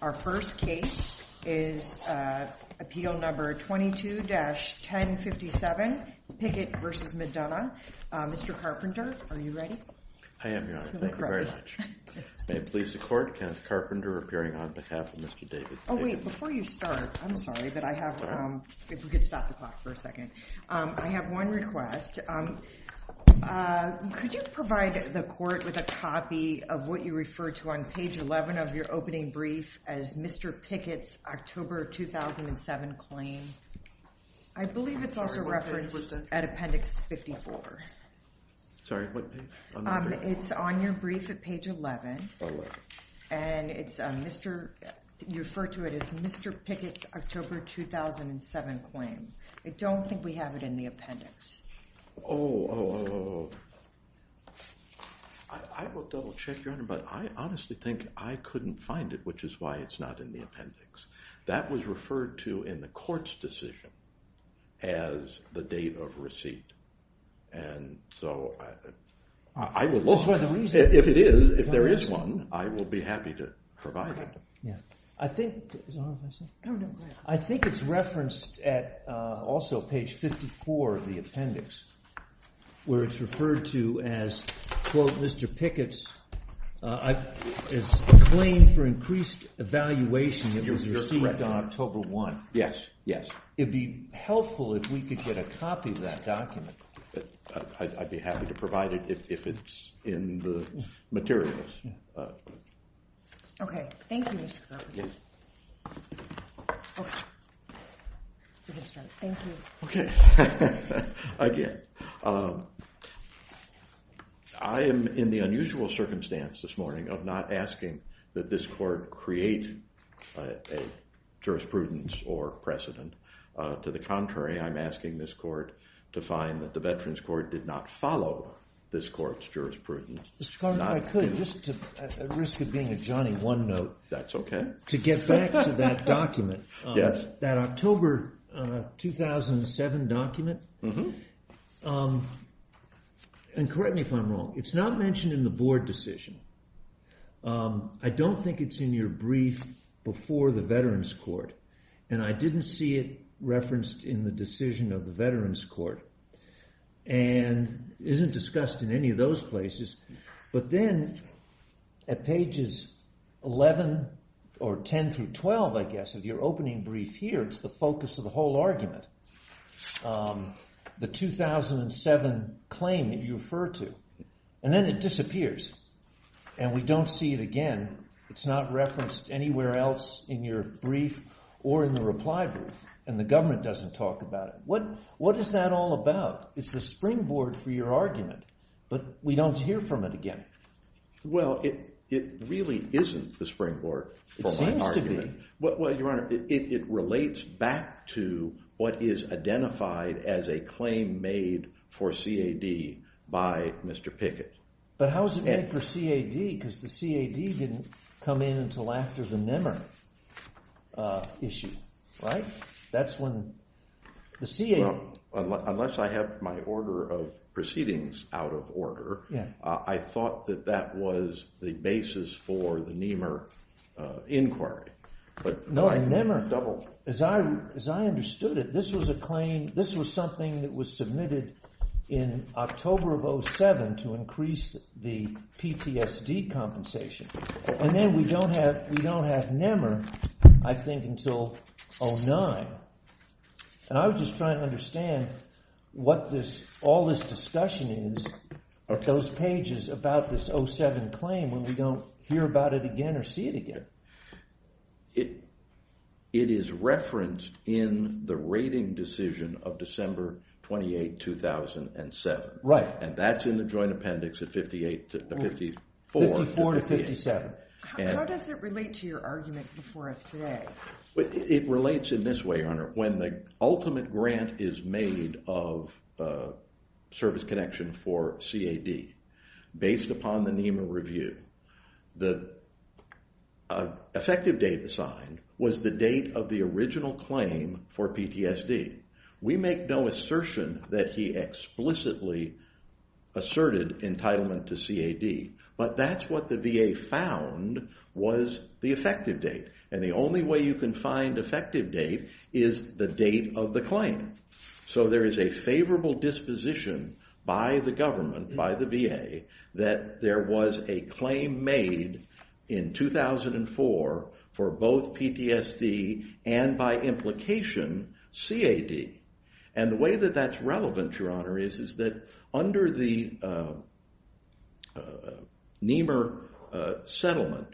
Our first case is Appeal No. 22-1057, Pickett v. McDonough. Mr. Carpenter, are you ready? I am, Your Honor. Thank you very much. May it please the Court, Kenneth Carpenter appearing on behalf of Mr. David Pickett. Oh wait, before you start, I'm sorry that I have to, if we could stop the clock for a second, I have one request. Could you provide the Court with a copy of what you refer to on page 11 of your opening brief as Mr. Pickett's October 2007 claim? I believe it's also referenced at Appendix 54. Sorry, what page? It's on your brief at page 11, and you refer to it as Mr. Pickett's October 2007 claim. I don't think we have it in the appendix. Oh, I will double check, Your Honor, but I honestly think I couldn't find it, which is why it's not in the appendix. That was referred to in the Court's decision as the date of receipt, and so I would love, if it is, if there is one, I would be happy to provide it. I think it's referenced at also page 54 of the appendix, where it's referred to as Mr. Pickett's claim for increased evaluation that was received on October 1. Yes, yes. It would be helpful if we could get a copy of that document. I'd be happy to provide it if it's in the materials. Okay, thank you, Mr. Carpenter. Okay, again, I am in the unusual circumstance this morning of not asking that this Court create a jurisprudence or precedent. To the contrary, I'm asking this Court to find that the Veterans Court did not follow this Court's jurisprudence. Mr. Carpenter, if I could, just at risk of being a Johnny OneNote. That's okay. To get back to that document, that October 2007 document, and correct me if I'm wrong, it's not mentioned in the Board decision. I don't think it's in your brief before the Veterans Court, and I didn't see it referenced in the decision of the Veterans Court, and isn't discussed in any of those places. But then at pages 11 or 10 through 12, I guess, of your opening brief here, it's the focus of the whole argument, the 2007 claim that you refer to, and then it disappears, and we don't see it again. It's not referenced anywhere else in your brief or in the reply brief, and the government doesn't talk about it. What is that all about? It's the springboard for your argument, but we don't hear from it again. Well, it really isn't the springboard for my argument. It seems to be. Well, Your Honor, it relates back to what is identified as a claim made for CAD by Mr. Pickett. But how is it made for CAD? Because the CAD didn't come in until after the NEMR issue, right? That's when the CAD- Well, unless I have my order of proceedings out of order, I thought that that was the basis for the NEMR inquiry. No, NEMR. Double. As I understood it, this was a claim, this was something that was submitted in October of 2007 to increase the PTSD compensation, and then we don't have NEMR, I think, until 2009. And I was just trying to understand what all this discussion is at those pages about this 2007 claim when we don't hear about it again or see it again. It is referenced in the rating decision of December 28, 2007. Right. And that's in the joint appendix at 54- 54 to 57. How does it relate to your argument before us today? It relates in this way, Your Honor. When the ultimate grant is made of service connection for CAD based upon the NEMR review, the effective date assigned was the date of the original claim for PTSD. We make no assertion that he explicitly asserted entitlement to CAD, but that's what the VA found was the effective date. And the only way you can find effective date is the date of the claim. So there is a favorable disposition by the government, by the VA, that there was a claim made in 2004 for both PTSD and, by implication, CAD. And the way that that's relevant, Your Honor, is that under the NEMR settlement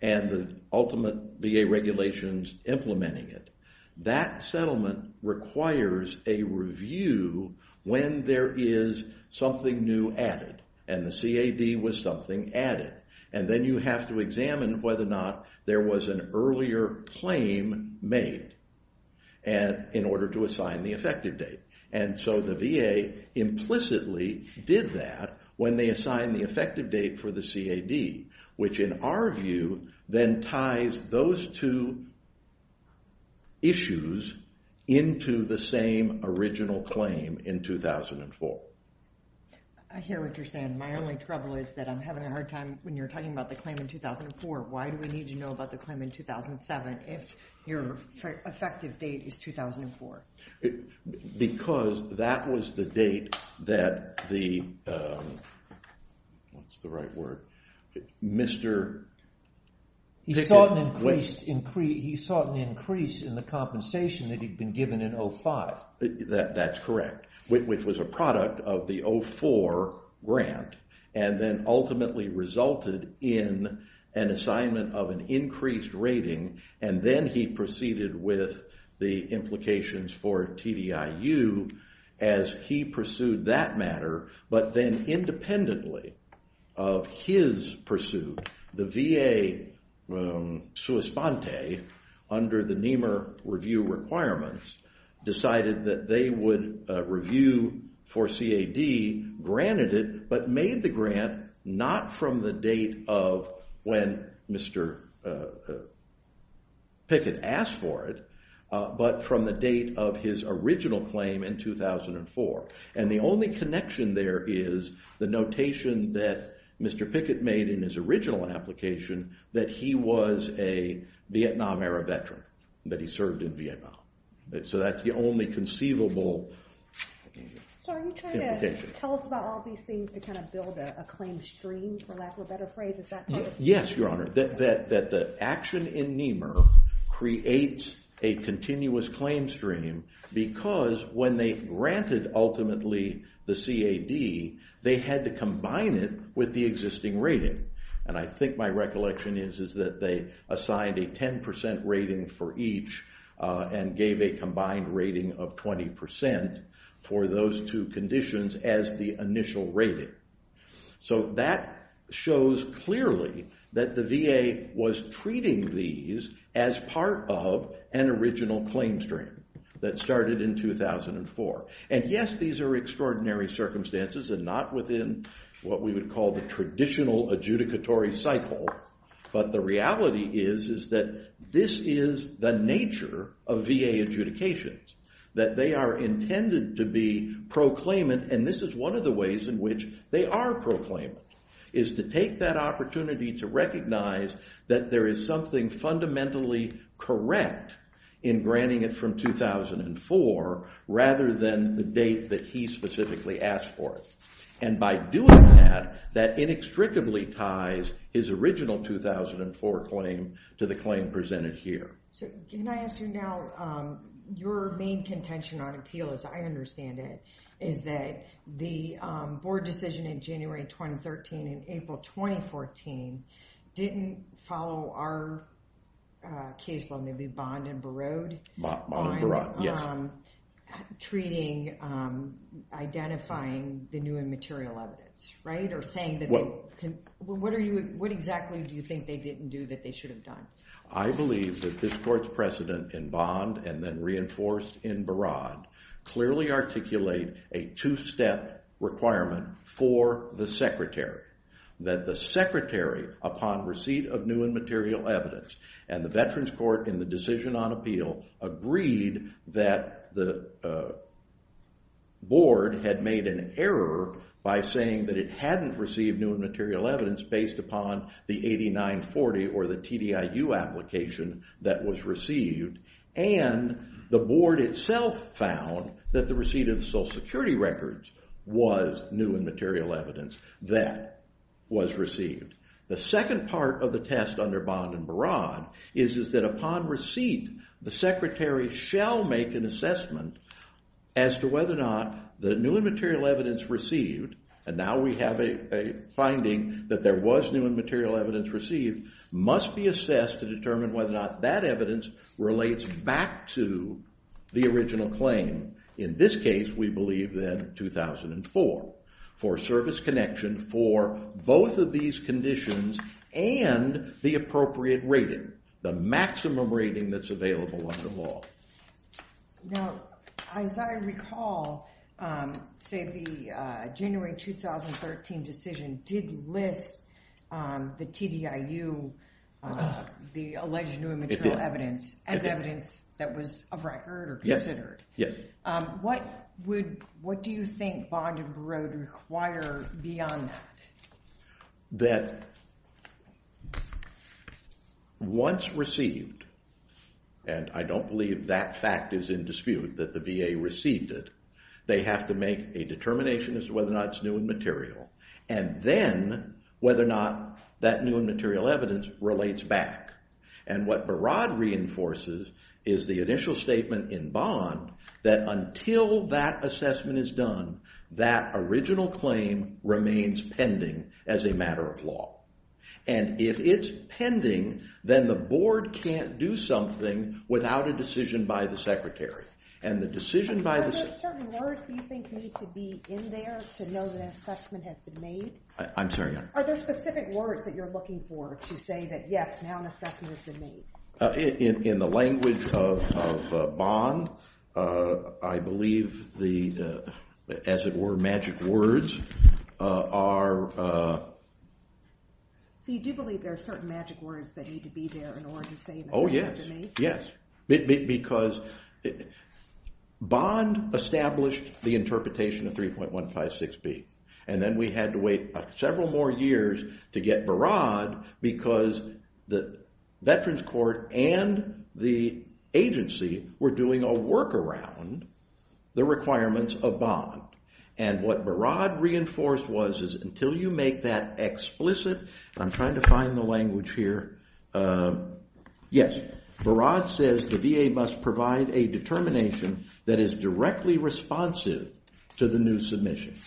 and the ultimate VA regulations implementing it, that settlement requires a review when there is something new added and the CAD was something added. And then you have to examine whether or not there was an earlier claim made in order to assign the effective date. And so the VA implicitly did that when they assigned the effective date for the CAD, which in our view then ties those two issues into the same original claim in 2004. I hear what you're saying. My only trouble is that I'm having a hard time when you're talking about the claim in 2004. Why do we need to know about the claim in 2007 if your effective date is 2004? Because that was the date that the, what's the right word, Mr. He sought an increase in the compensation that he'd been given in 05. That's correct, which was a product of the 04 grant and then ultimately resulted in an assignment of an increased rating and then he proceeded with the implications for TDIU as he pursued that matter. But then independently of his pursuit, the VA under the NEMR review requirements decided that they would review for CAD, granted it, but made the grant not from the date of when Mr. Pickett asked for it, but from the date of his original claim in 2004. And the only connection there is the notation that Mr. Pickett made in his original application that he was a Vietnam-era veteran, that he served in Vietnam. So that's the only conceivable implication. So are you trying to tell us about all these things to kind of build a claim stream, for lack of a better phrase? Is that part of it? Yes, Your Honor, that the action in NEMR creates a continuous claim stream because when they granted ultimately the CAD, they had to combine it with the existing rating. And I think my recollection is that they assigned a 10% rating for each and gave a combined rating of 20% for those two conditions as the initial rating. So that shows clearly that the VA was treating these as part of an original claim stream that started in 2004. And yes, these are extraordinary circumstances and not within what we would call the traditional adjudicatory cycle. But the reality is that this is the nature of VA adjudications, that they are intended to be proclaimant. And this is one of the ways in which they are proclaimant, is to take that opportunity to recognize that there is something fundamentally correct in granting it from 2004 rather than the date that he specifically asked for it. And by doing that, that inextricably ties his original 2004 claim to the claim presented here. So can I ask you now, your main contention on appeal, as I understand it, is that the board decision in January 2013 and April 2014 didn't follow our caseload. Maybe Bond and Barod? Bond and Barod, yes. Treating, identifying the new and material evidence, right? Or saying that they, what are you, what exactly do you think they didn't do that they should have done? I believe that this court's precedent in Bond and then reinforced in Barod clearly articulate a two-step requirement for the secretary. That the secretary, upon receipt of new and material evidence, and the Veterans Court in the decision on appeal, agreed that the board had made an error by saying that it hadn't received new and material evidence based upon the 8940 or the TDIU application that was received. And the board itself found that the receipt of the Social Security records was new and material evidence that was received. The second part of the test under Bond and Barod is that upon receipt, the secretary shall make an assessment as to whether or not the new and material evidence received, and now we have a finding that there was new and material evidence received, must be assessed to determine whether or not that evidence relates back to the original claim. In this case, we believe that 2004, for service connection for both of these conditions and the appropriate rating, the maximum rating that's available under law. Now, as I recall, say the January 2013 decision did list the TDIU, the alleged new and material evidence, as evidence that was of record or considered. Yes. What do you think Bond and Barod require beyond that? That once received, and I don't believe that fact is in dispute that the VA received it, they have to make a determination as to whether or not it's new and material, and then whether or not that new and material evidence relates back. And what Barod reinforces is the initial statement in Bond that until that assessment is done, that original claim remains pending as a matter of law. And if it's pending, then the board can't do something without a decision by the secretary. And the decision by the… Are there certain words that you think need to be in there to know that an assessment has been made? I'm sorry, Your Honor. Are there specific words that you're looking for to say that, yes, now an assessment has been made? In the language of Bond, I believe the, as it were, magic words are… So you do believe there are certain magic words that need to be there in order to say an assessment has been made? Yes, because Bond established the interpretation of 3.156B. And then we had to wait several more years to get Barod because the Veterans Court and the agency were doing a workaround the requirements of Bond. And what Barod reinforced was is until you make that explicit, I'm trying to find the language here. Yes, Barod says the VA must provide a determination that is directly responsive to the new submission.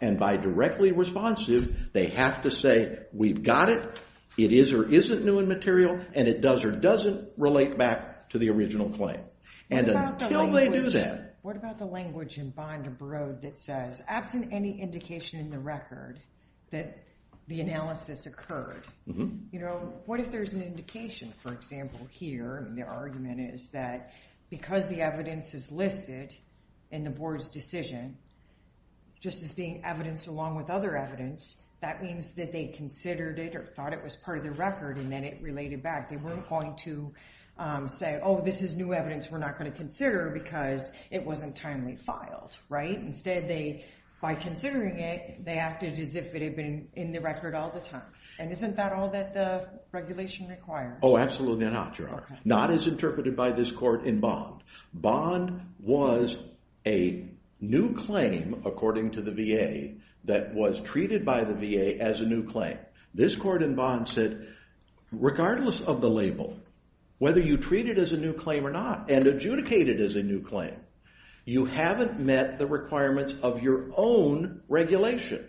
And by directly responsive, they have to say we've got it, it is or isn't new in material, and it does or doesn't relate back to the original claim. And until they do that… What about the language in Bond or Barod that says, absent any indication in the record that the analysis occurred, you know, what if there's an indication? For example, here, the argument is that because the evidence is listed in the board's decision, just as being evidenced along with other evidence, that means that they considered it or thought it was part of the record and then it related back. They weren't going to say, oh, this is new evidence we're not going to consider because it wasn't timely filed, right? Instead, they, by considering it, they acted as if it had been in the record all the time. And isn't that all that the regulation requires? Oh, absolutely not, Gerard. Not as interpreted by this court in Bond. Bond was a new claim, according to the VA, that was treated by the VA as a new claim. This court in Bond said, regardless of the label, whether you treat it as a new claim or not and adjudicate it as a new claim, you haven't met the requirements of your own regulation.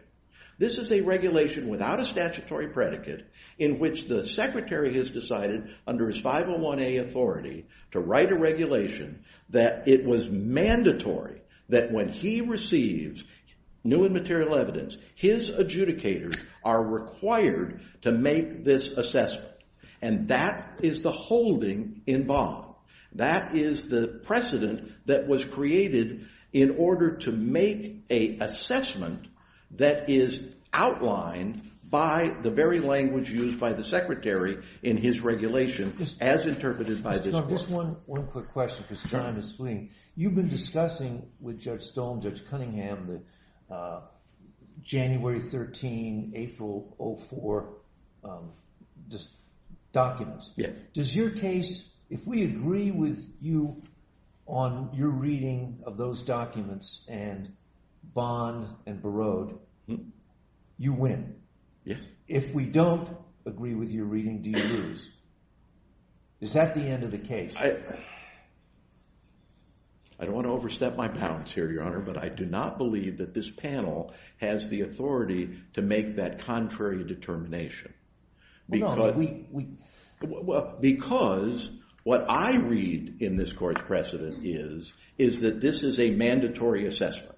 This is a regulation without a statutory predicate in which the secretary has decided, under his 501A authority, to write a regulation that it was mandatory that when he receives new and material evidence, his adjudicators are required to make this assessment. That is the precedent that was created in order to make an assessment that is outlined by the very language used by the secretary in his regulation, as interpreted by this court. Just one quick question because time is fleeing. You've been discussing with Judge Stone, Judge Cunningham, the January 13, April 04 documents. If we agree with you on your reading of those documents in Bond and Barod, you win. If we don't agree with your reading, do you lose? Is that the end of the case? I don't want to overstep my bounds here, Your Honor, but I do not believe that this panel has the authority to make that contrary determination. Because what I read in this court's precedent is that this is a mandatory assessment,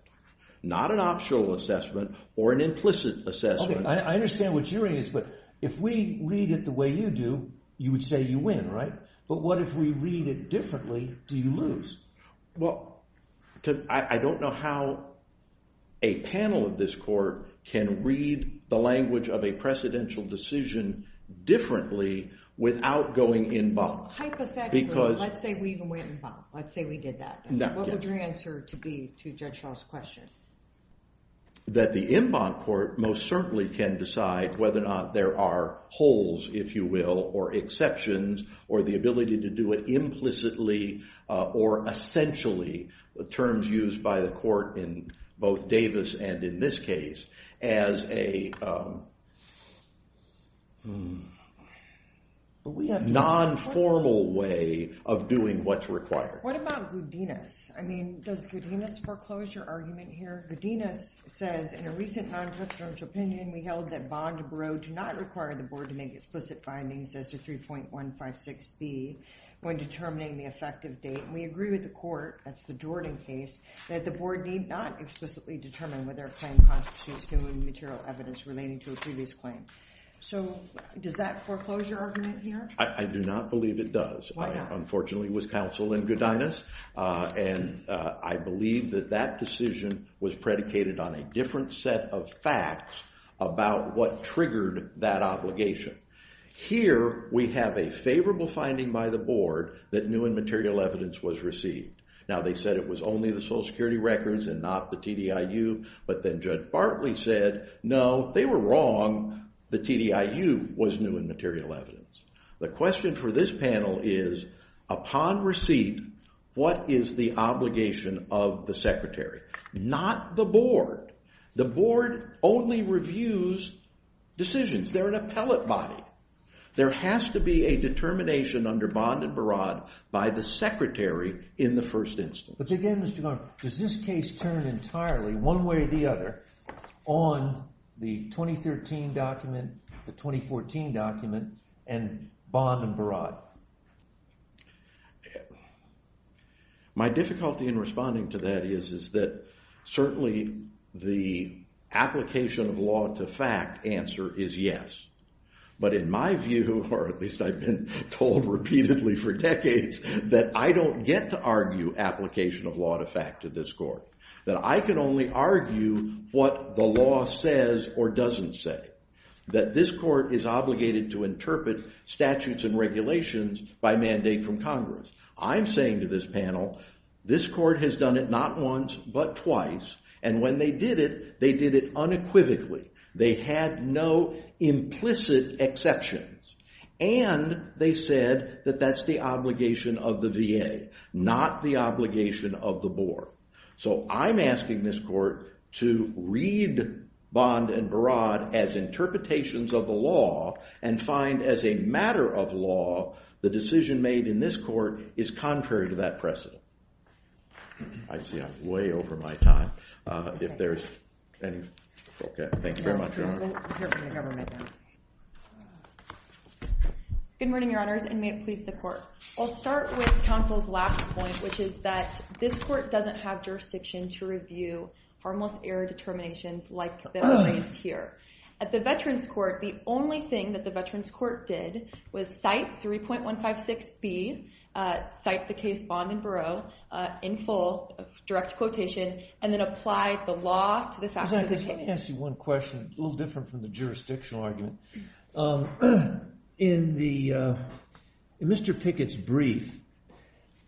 not an optional assessment or an implicit assessment. I understand what you're saying, but if we read it the way you do, you would say you win, right? But what if we read it differently, do you lose? Well, I don't know how a panel of this court can read the language of a precedential decision differently without going in Bond. Hypothetically, let's say we even went in Bond. Let's say we did that. What would your answer be to Judge Shaw's question? That the en Bond court most certainly can decide whether or not there are holes, if you will, or exceptions, or the ability to do it implicitly or essentially, the terms used by the court in both Davis and in this case, as a non-formal way of doing what's required. What about Gudinas? I mean, does Gudinas foreclose your argument here? Gudinas says, in a recent non-presidential opinion, we held that Bond Barreau do not require the board to make explicit findings as to 3.156B when determining the effective date. We agree with the court, that's the Jordan case, that the board need not explicitly determine whether a claim constitutes new and material evidence relating to a previous claim. So, does that foreclose your argument here? Why not? That, unfortunately, was counsel in Gudinas, and I believe that that decision was predicated on a different set of facts about what triggered that obligation. Here, we have a favorable finding by the board that new and material evidence was received. Now, they said it was only the Social Security records and not the TDIU, but then Judge Bartley said, no, they were wrong. The TDIU was new and material evidence. The question for this panel is, upon receipt, what is the obligation of the secretary? Not the board. The board only reviews decisions. They're an appellate body. There has to be a determination under Bond and Barraud by the secretary in the first instance. But again, Mr. Garner, does this case turn entirely, one way or the other, on the 2013 document, the 2014 document, and Bond and Barraud? My difficulty in responding to that is that, certainly, the application of law to fact answer is yes. But in my view, or at least I've been told repeatedly for decades, that I don't get to argue application of law to fact to this court. That I can only argue what the law says or doesn't say. That this court is obligated to interpret statutes and regulations by mandate from Congress. I'm saying to this panel, this court has done it not once, but twice, and when they did it, they did it unequivocally. They had no implicit exceptions. And they said that that's the obligation of the VA, not the obligation of the board. So I'm asking this court to read Bond and Barraud as interpretations of the law and find, as a matter of law, the decision made in this court is contrary to that precedent. I see I'm way over my time. Thank you very much, Your Honor. Good morning, Your Honors, and may it please the court. I'll start with counsel's last point, which is that this court doesn't have jurisdiction to review harmless error determinations like the raised here. At the Veterans Court, the only thing that the Veterans Court did was cite 3.156B, cite the case Bond and Barraud in full, direct quotation, and then apply the law to the fact of the case. Let me ask you one question, a little different from the jurisdictional argument. In Mr. Pickett's brief,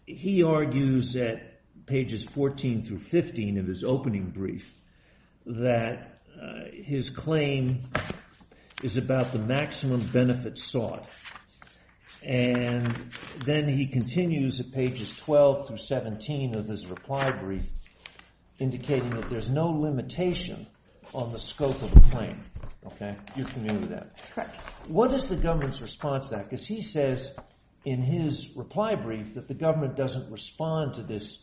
he argues at pages 14 through 15 of his opening brief that his claim is about the maximum benefit sought. And then he continues at pages 12 through 17 of his reply brief, indicating that there's no limitation on the scope of the claim. You're familiar with that? Correct. What is the government's response to that? Because he says in his reply brief that the government doesn't respond to this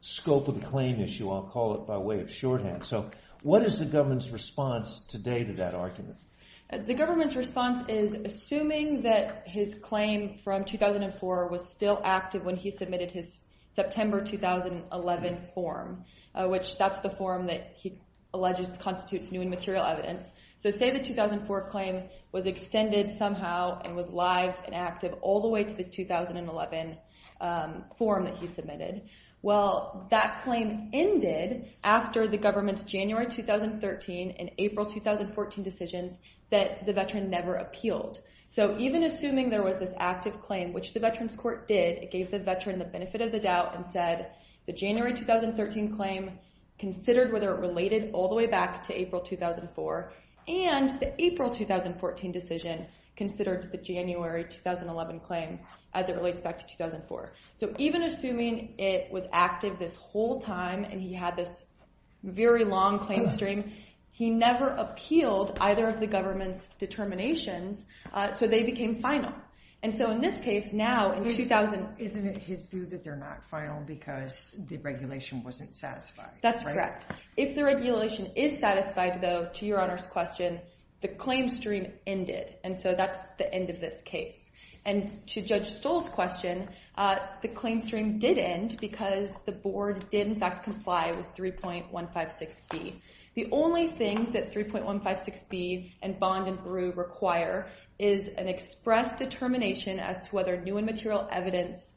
scope of the claim issue, I'll call it by way of shorthand. So what is the government's response today to that argument? The government's response is assuming that his claim from 2004 was still active when he submitted his September 2011 form, which that's the form that he alleges constitutes new and material evidence. So say the 2004 claim was extended somehow and was live and active all the way to the 2011 form that he submitted. Well, that claim ended after the government's January 2013 and April 2014 decisions that the veteran never appealed. So even assuming there was this active claim, which the Veterans Court did, it gave the veteran the benefit of the doubt and said the January 2013 claim considered whether it related all the way back to April 2004. And the April 2014 decision considered the January 2011 claim as it relates back to 2004. So even assuming it was active this whole time and he had this very long claim stream, he never appealed either of the government's determinations, so they became final. Isn't it his view that they're not final because the regulation wasn't satisfied? That's correct. If the regulation is satisfied, though, to Your Honor's question, the claim stream ended. And so that's the end of this case. And to Judge Stoll's question, the claim stream did end because the board did, in fact, comply with 3.156B. The only thing that 3.156B and Bond and Brew require is an express determination as to whether new and material evidence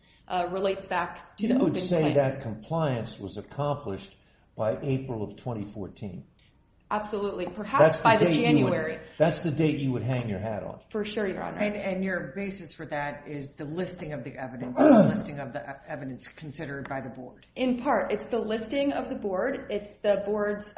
relates back to the open claim. You would say that compliance was accomplished by April of 2014. Absolutely. Perhaps by the January. That's the date you would hang your hat on. For sure, Your Honor. And your basis for that is the listing of the evidence, the listing of the evidence considered by the board. In part, it's the listing of the board. It's the board's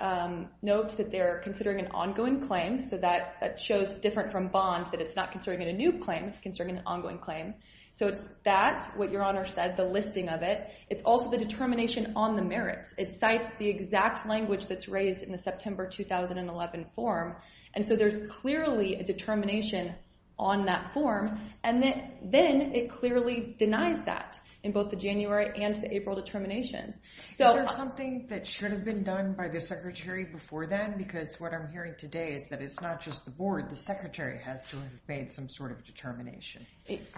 note that they're considering an ongoing claim. So that shows, different from Bond, that it's not considering a new claim. It's considering an ongoing claim. So it's that, what Your Honor said, the listing of it. It's also the determination on the merits. It cites the exact language that's raised in the September 2011 form. And so there's clearly a determination on that form. And then it clearly denies that in both the January and the April determinations. Is there something that should have been done by the Secretary before then? Because what I'm hearing today is that it's not just the board. The Secretary has to have made some sort of determination.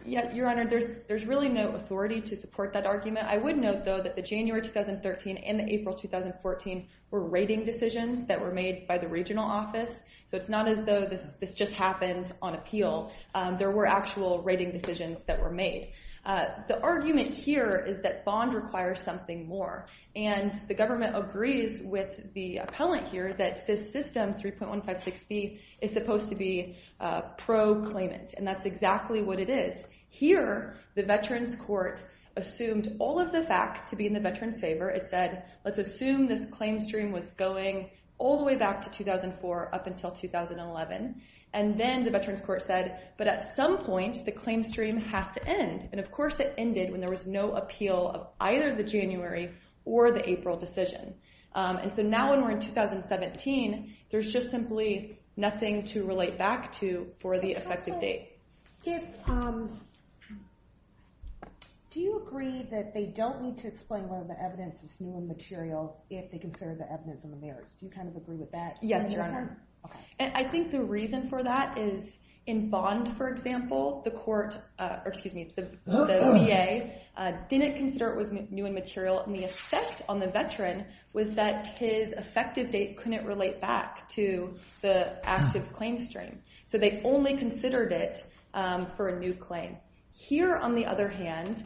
Your Honor, there's really no authority to support that argument. I would note, though, that the January 2013 and the April 2014 were rating decisions that were made by the regional office. So it's not as though this just happened on appeal. There were actual rating decisions that were made. The argument here is that Bond requires something more. And the government agrees with the appellant here that this system, 3.156B, is supposed to be pro-claimant. And that's exactly what it is. Here, the Veterans Court assumed all of the facts to be in the veterans' favor. It said, let's assume this claim stream was going all the way back to 2004 up until 2011. And then the Veterans Court said, but at some point, the claim stream has to end. And, of course, it ended when there was no appeal of either the January or the April decision. And so now when we're in 2017, there's just simply nothing to relate back to for the effective date. Do you agree that they don't need to explain whether the evidence is new and material if they consider the evidence in the merits? Do you kind of agree with that? Yes, Your Honor. And I think the reason for that is in Bond, for example, the VA didn't consider it was new and material. And the effect on the veteran was that his effective date couldn't relate back to the active claim stream. So they only considered it for a new claim. Here, on the other hand,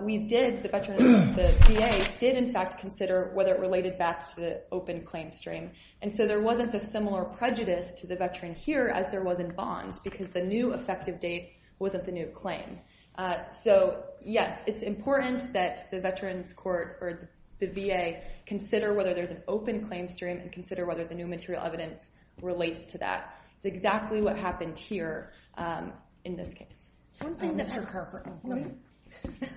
we did, the VA did, in fact, consider whether it related back to the open claim stream. And so there wasn't a similar prejudice to the veteran here as there was in Bond because the new effective date wasn't the new claim. So, yes, it's important that the Veterans Court or the VA consider whether there's an open claim stream and consider whether the new material evidence relates to that. It's exactly what happened here in this case. Mr. Carpenter.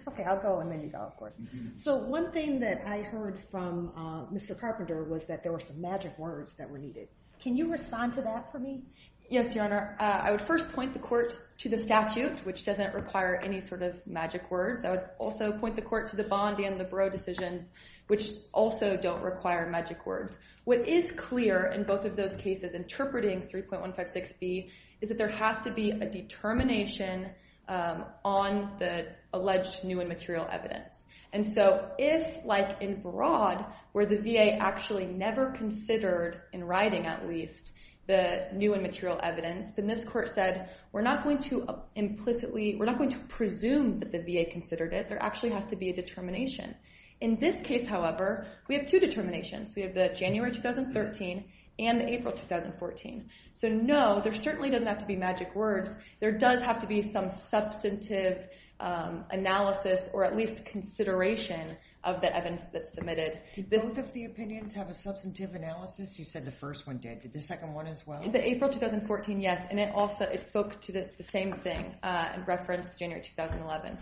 Okay, I'll go and then you go, of course. So one thing that I heard from Mr. Carpenter was that there were some magic words that were needed. Can you respond to that for me? Yes, Your Honor. I would first point the court to the statute, which doesn't require any sort of magic words. I would also point the court to the Bond and the Barreau decisions, which also don't require magic words. What is clear in both of those cases, interpreting 3.156B, is that there has to be a determination on the alleged new and material evidence. And so if, like in broad, where the VA actually never considered, in writing at least, the new and material evidence, then this court said, we're not going to implicitly, we're not going to presume that the VA considered it. There actually has to be a determination. In this case, however, we have two determinations. We have the January 2013 and the April 2014. So no, there certainly doesn't have to be magic words. There does have to be some substantive analysis or at least consideration of the evidence that's submitted. Did both of the opinions have a substantive analysis? You said the first one did. Did the second one as well? The April 2014, yes. And it also spoke to the same thing in reference to January 2011.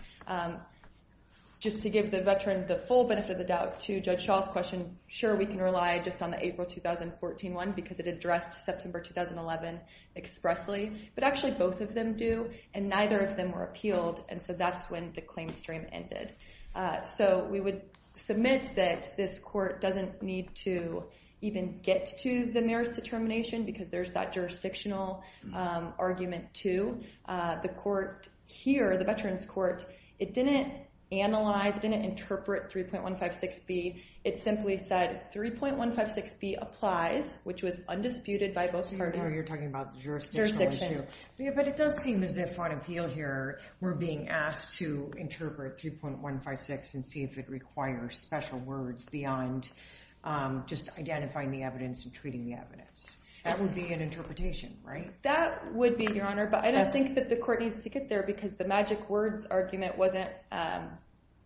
Just to give the veteran the full benefit of the doubt to Judge Shaw's question, sure, we can rely just on the April 2014 one because it addressed September 2011 expressly. But actually, both of them do, and neither of them were appealed. And so that's when the claim stream ended. So we would submit that this court doesn't need to even get to the marriage determination because there's that jurisdictional argument too. The court here, the veterans court, it didn't analyze, it didn't interpret 3.156B. It simply said 3.156B applies, which was undisputed by both parties. So you're talking about the jurisdictional issue. But it does seem as if on appeal here, we're being asked to interpret 3.156 and see if it requires special words beyond just identifying the evidence and treating the evidence. That would be an interpretation, right? That would be, Your Honor. But I don't think that the court needs to get there because the magic words argument wasn't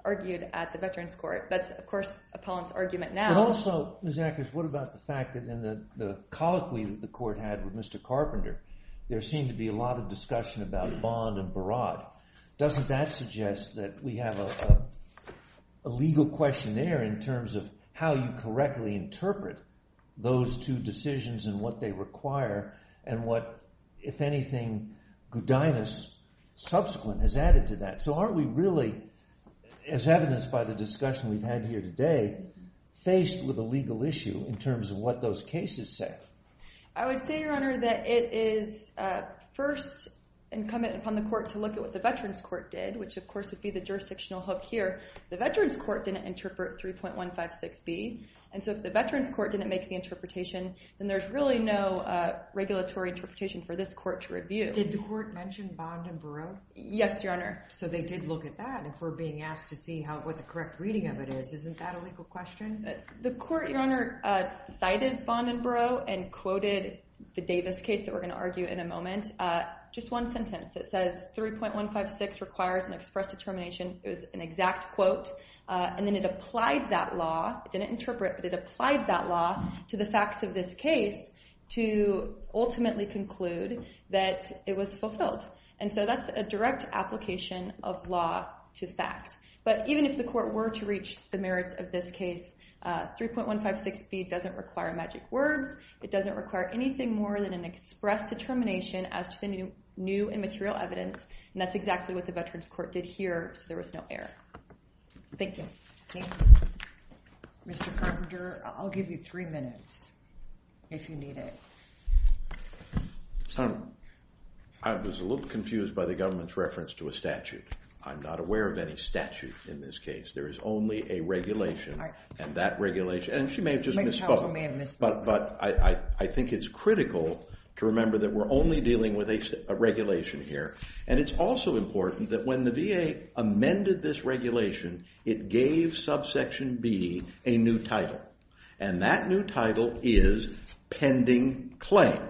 argued at the veterans court. That's, of course, Appellant's argument now. But also, Ms. Akers, what about the fact that in the colloquy that the court had with Mr. Carpenter, there seemed to be a lot of discussion about Bond and Barad. Doesn't that suggest that we have a legal question there in terms of how you correctly interpret those two decisions and what they require and what, if anything, Gudinas subsequent has added to that? So aren't we really, as evidenced by the discussion we've had here today, faced with a legal issue in terms of what those cases say? I would say, Your Honor, that it is first incumbent upon the court to look at what the veterans court did, which, of course, would be the jurisdictional hook here. The veterans court didn't interpret 3.156B. And so if the veterans court didn't make the interpretation, then there's really no regulatory interpretation for this court to review. Did the court mention Bond and Barad? Yes, Your Honor. So they did look at that. And if we're being asked to see what the correct reading of it is, isn't that a legal question? The court, Your Honor, cited Bond and Barad and quoted the Davis case that we're going to argue in a moment. Just one sentence. It says 3.156 requires an express determination. It was an exact quote. And then it applied that law. It didn't interpret, but it applied that law to the facts of this case to ultimately conclude that it was fulfilled. And so that's a direct application of law to fact. But even if the court were to reach the merits of this case, 3.156B doesn't require magic words. It doesn't require anything more than an express determination as to the new and material evidence. And that's exactly what the veterans court did here. So there was no error. Thank you. Thank you. Mr. Carpenter, I'll give you three minutes if you need it. I was a little confused by the government's reference to a statute. I'm not aware of any statute in this case. There is only a regulation. And that regulation, and she may have just misspoke. But I think it's critical to remember that we're only dealing with a regulation here. And it's also important that when the VA amended this regulation, it gave subsection B a new title. And that new title is pending claim.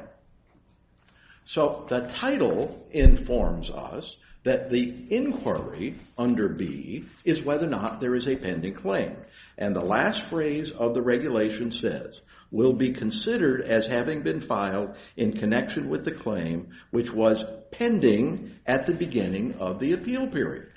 So the title informs us that the inquiry under B is whether or not there is a pending claim. And the last phrase of the regulation says, will be considered as having been filed in connection with the claim which was pending at the beginning of the appeal period.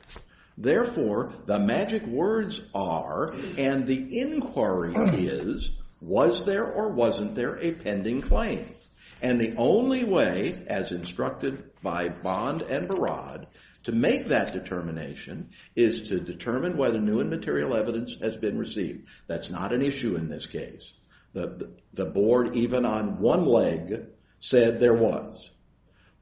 Therefore, the magic words are, and the inquiry is, was there or wasn't there a pending claim? And the only way, as instructed by Bond and Barad, to make that determination is to determine whether new and material evidence has been received. That's not an issue in this case. The board, even on one leg, said there was.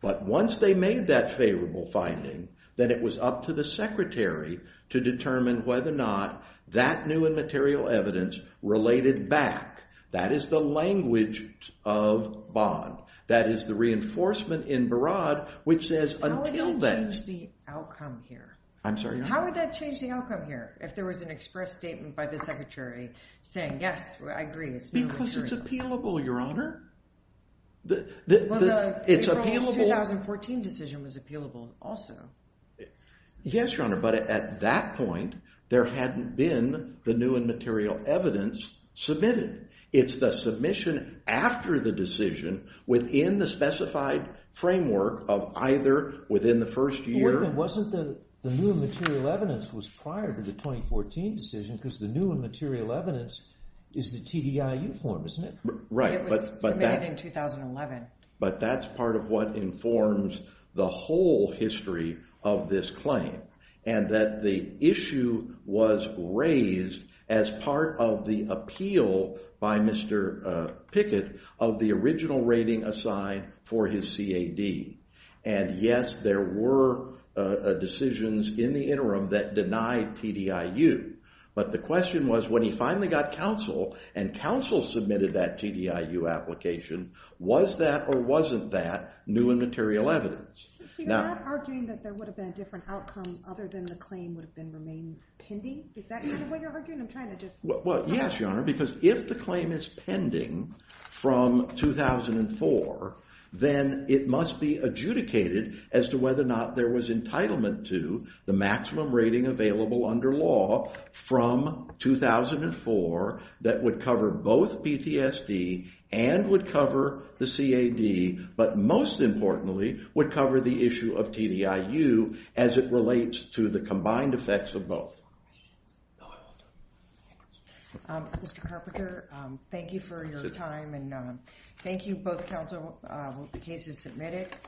But once they made that favorable finding, then it was up to the secretary to determine whether or not that new and material evidence related back. That is the language of Bond. That is the reinforcement in Barad, which says until then. How would that change the outcome here? I'm sorry? How would that change the outcome here? If there was an express statement by the secretary saying, yes, I agree. Because it's appealable, Your Honor. Well, the April 2014 decision was appealable also. Yes, Your Honor. But at that point, there hadn't been the new and material evidence submitted. It's the submission after the decision within the specified framework of either within the first year. Well, then, wasn't the new and material evidence was prior to the 2014 decision? Because the new and material evidence is the TDIU form, isn't it? Right. It was submitted in 2011. But that's part of what informs the whole history of this claim. And that the issue was raised as part of the appeal by Mr. Pickett of the original rating assigned for his CAD. And, yes, there were decisions in the interim that denied TDIU. But the question was when he finally got counsel and counsel submitted that TDIU application, was that or wasn't that new and material evidence? So you're not arguing that there would have been a different outcome other than the claim would have been remained pending? Is that kind of what you're arguing? I'm trying to just— Well, yes, Your Honor. Because if the claim is pending from 2004, then it must be adjudicated as to whether or not there was entitlement to the maximum rating available under law from 2004 that would cover both PTSD and would cover the CAD, but most importantly would cover the issue of TDIU as it relates to the combined effects of both. Any more questions? No, I'm all done. Mr. Carpenter, thank you for your time and thank you both counsel. The case is submitted.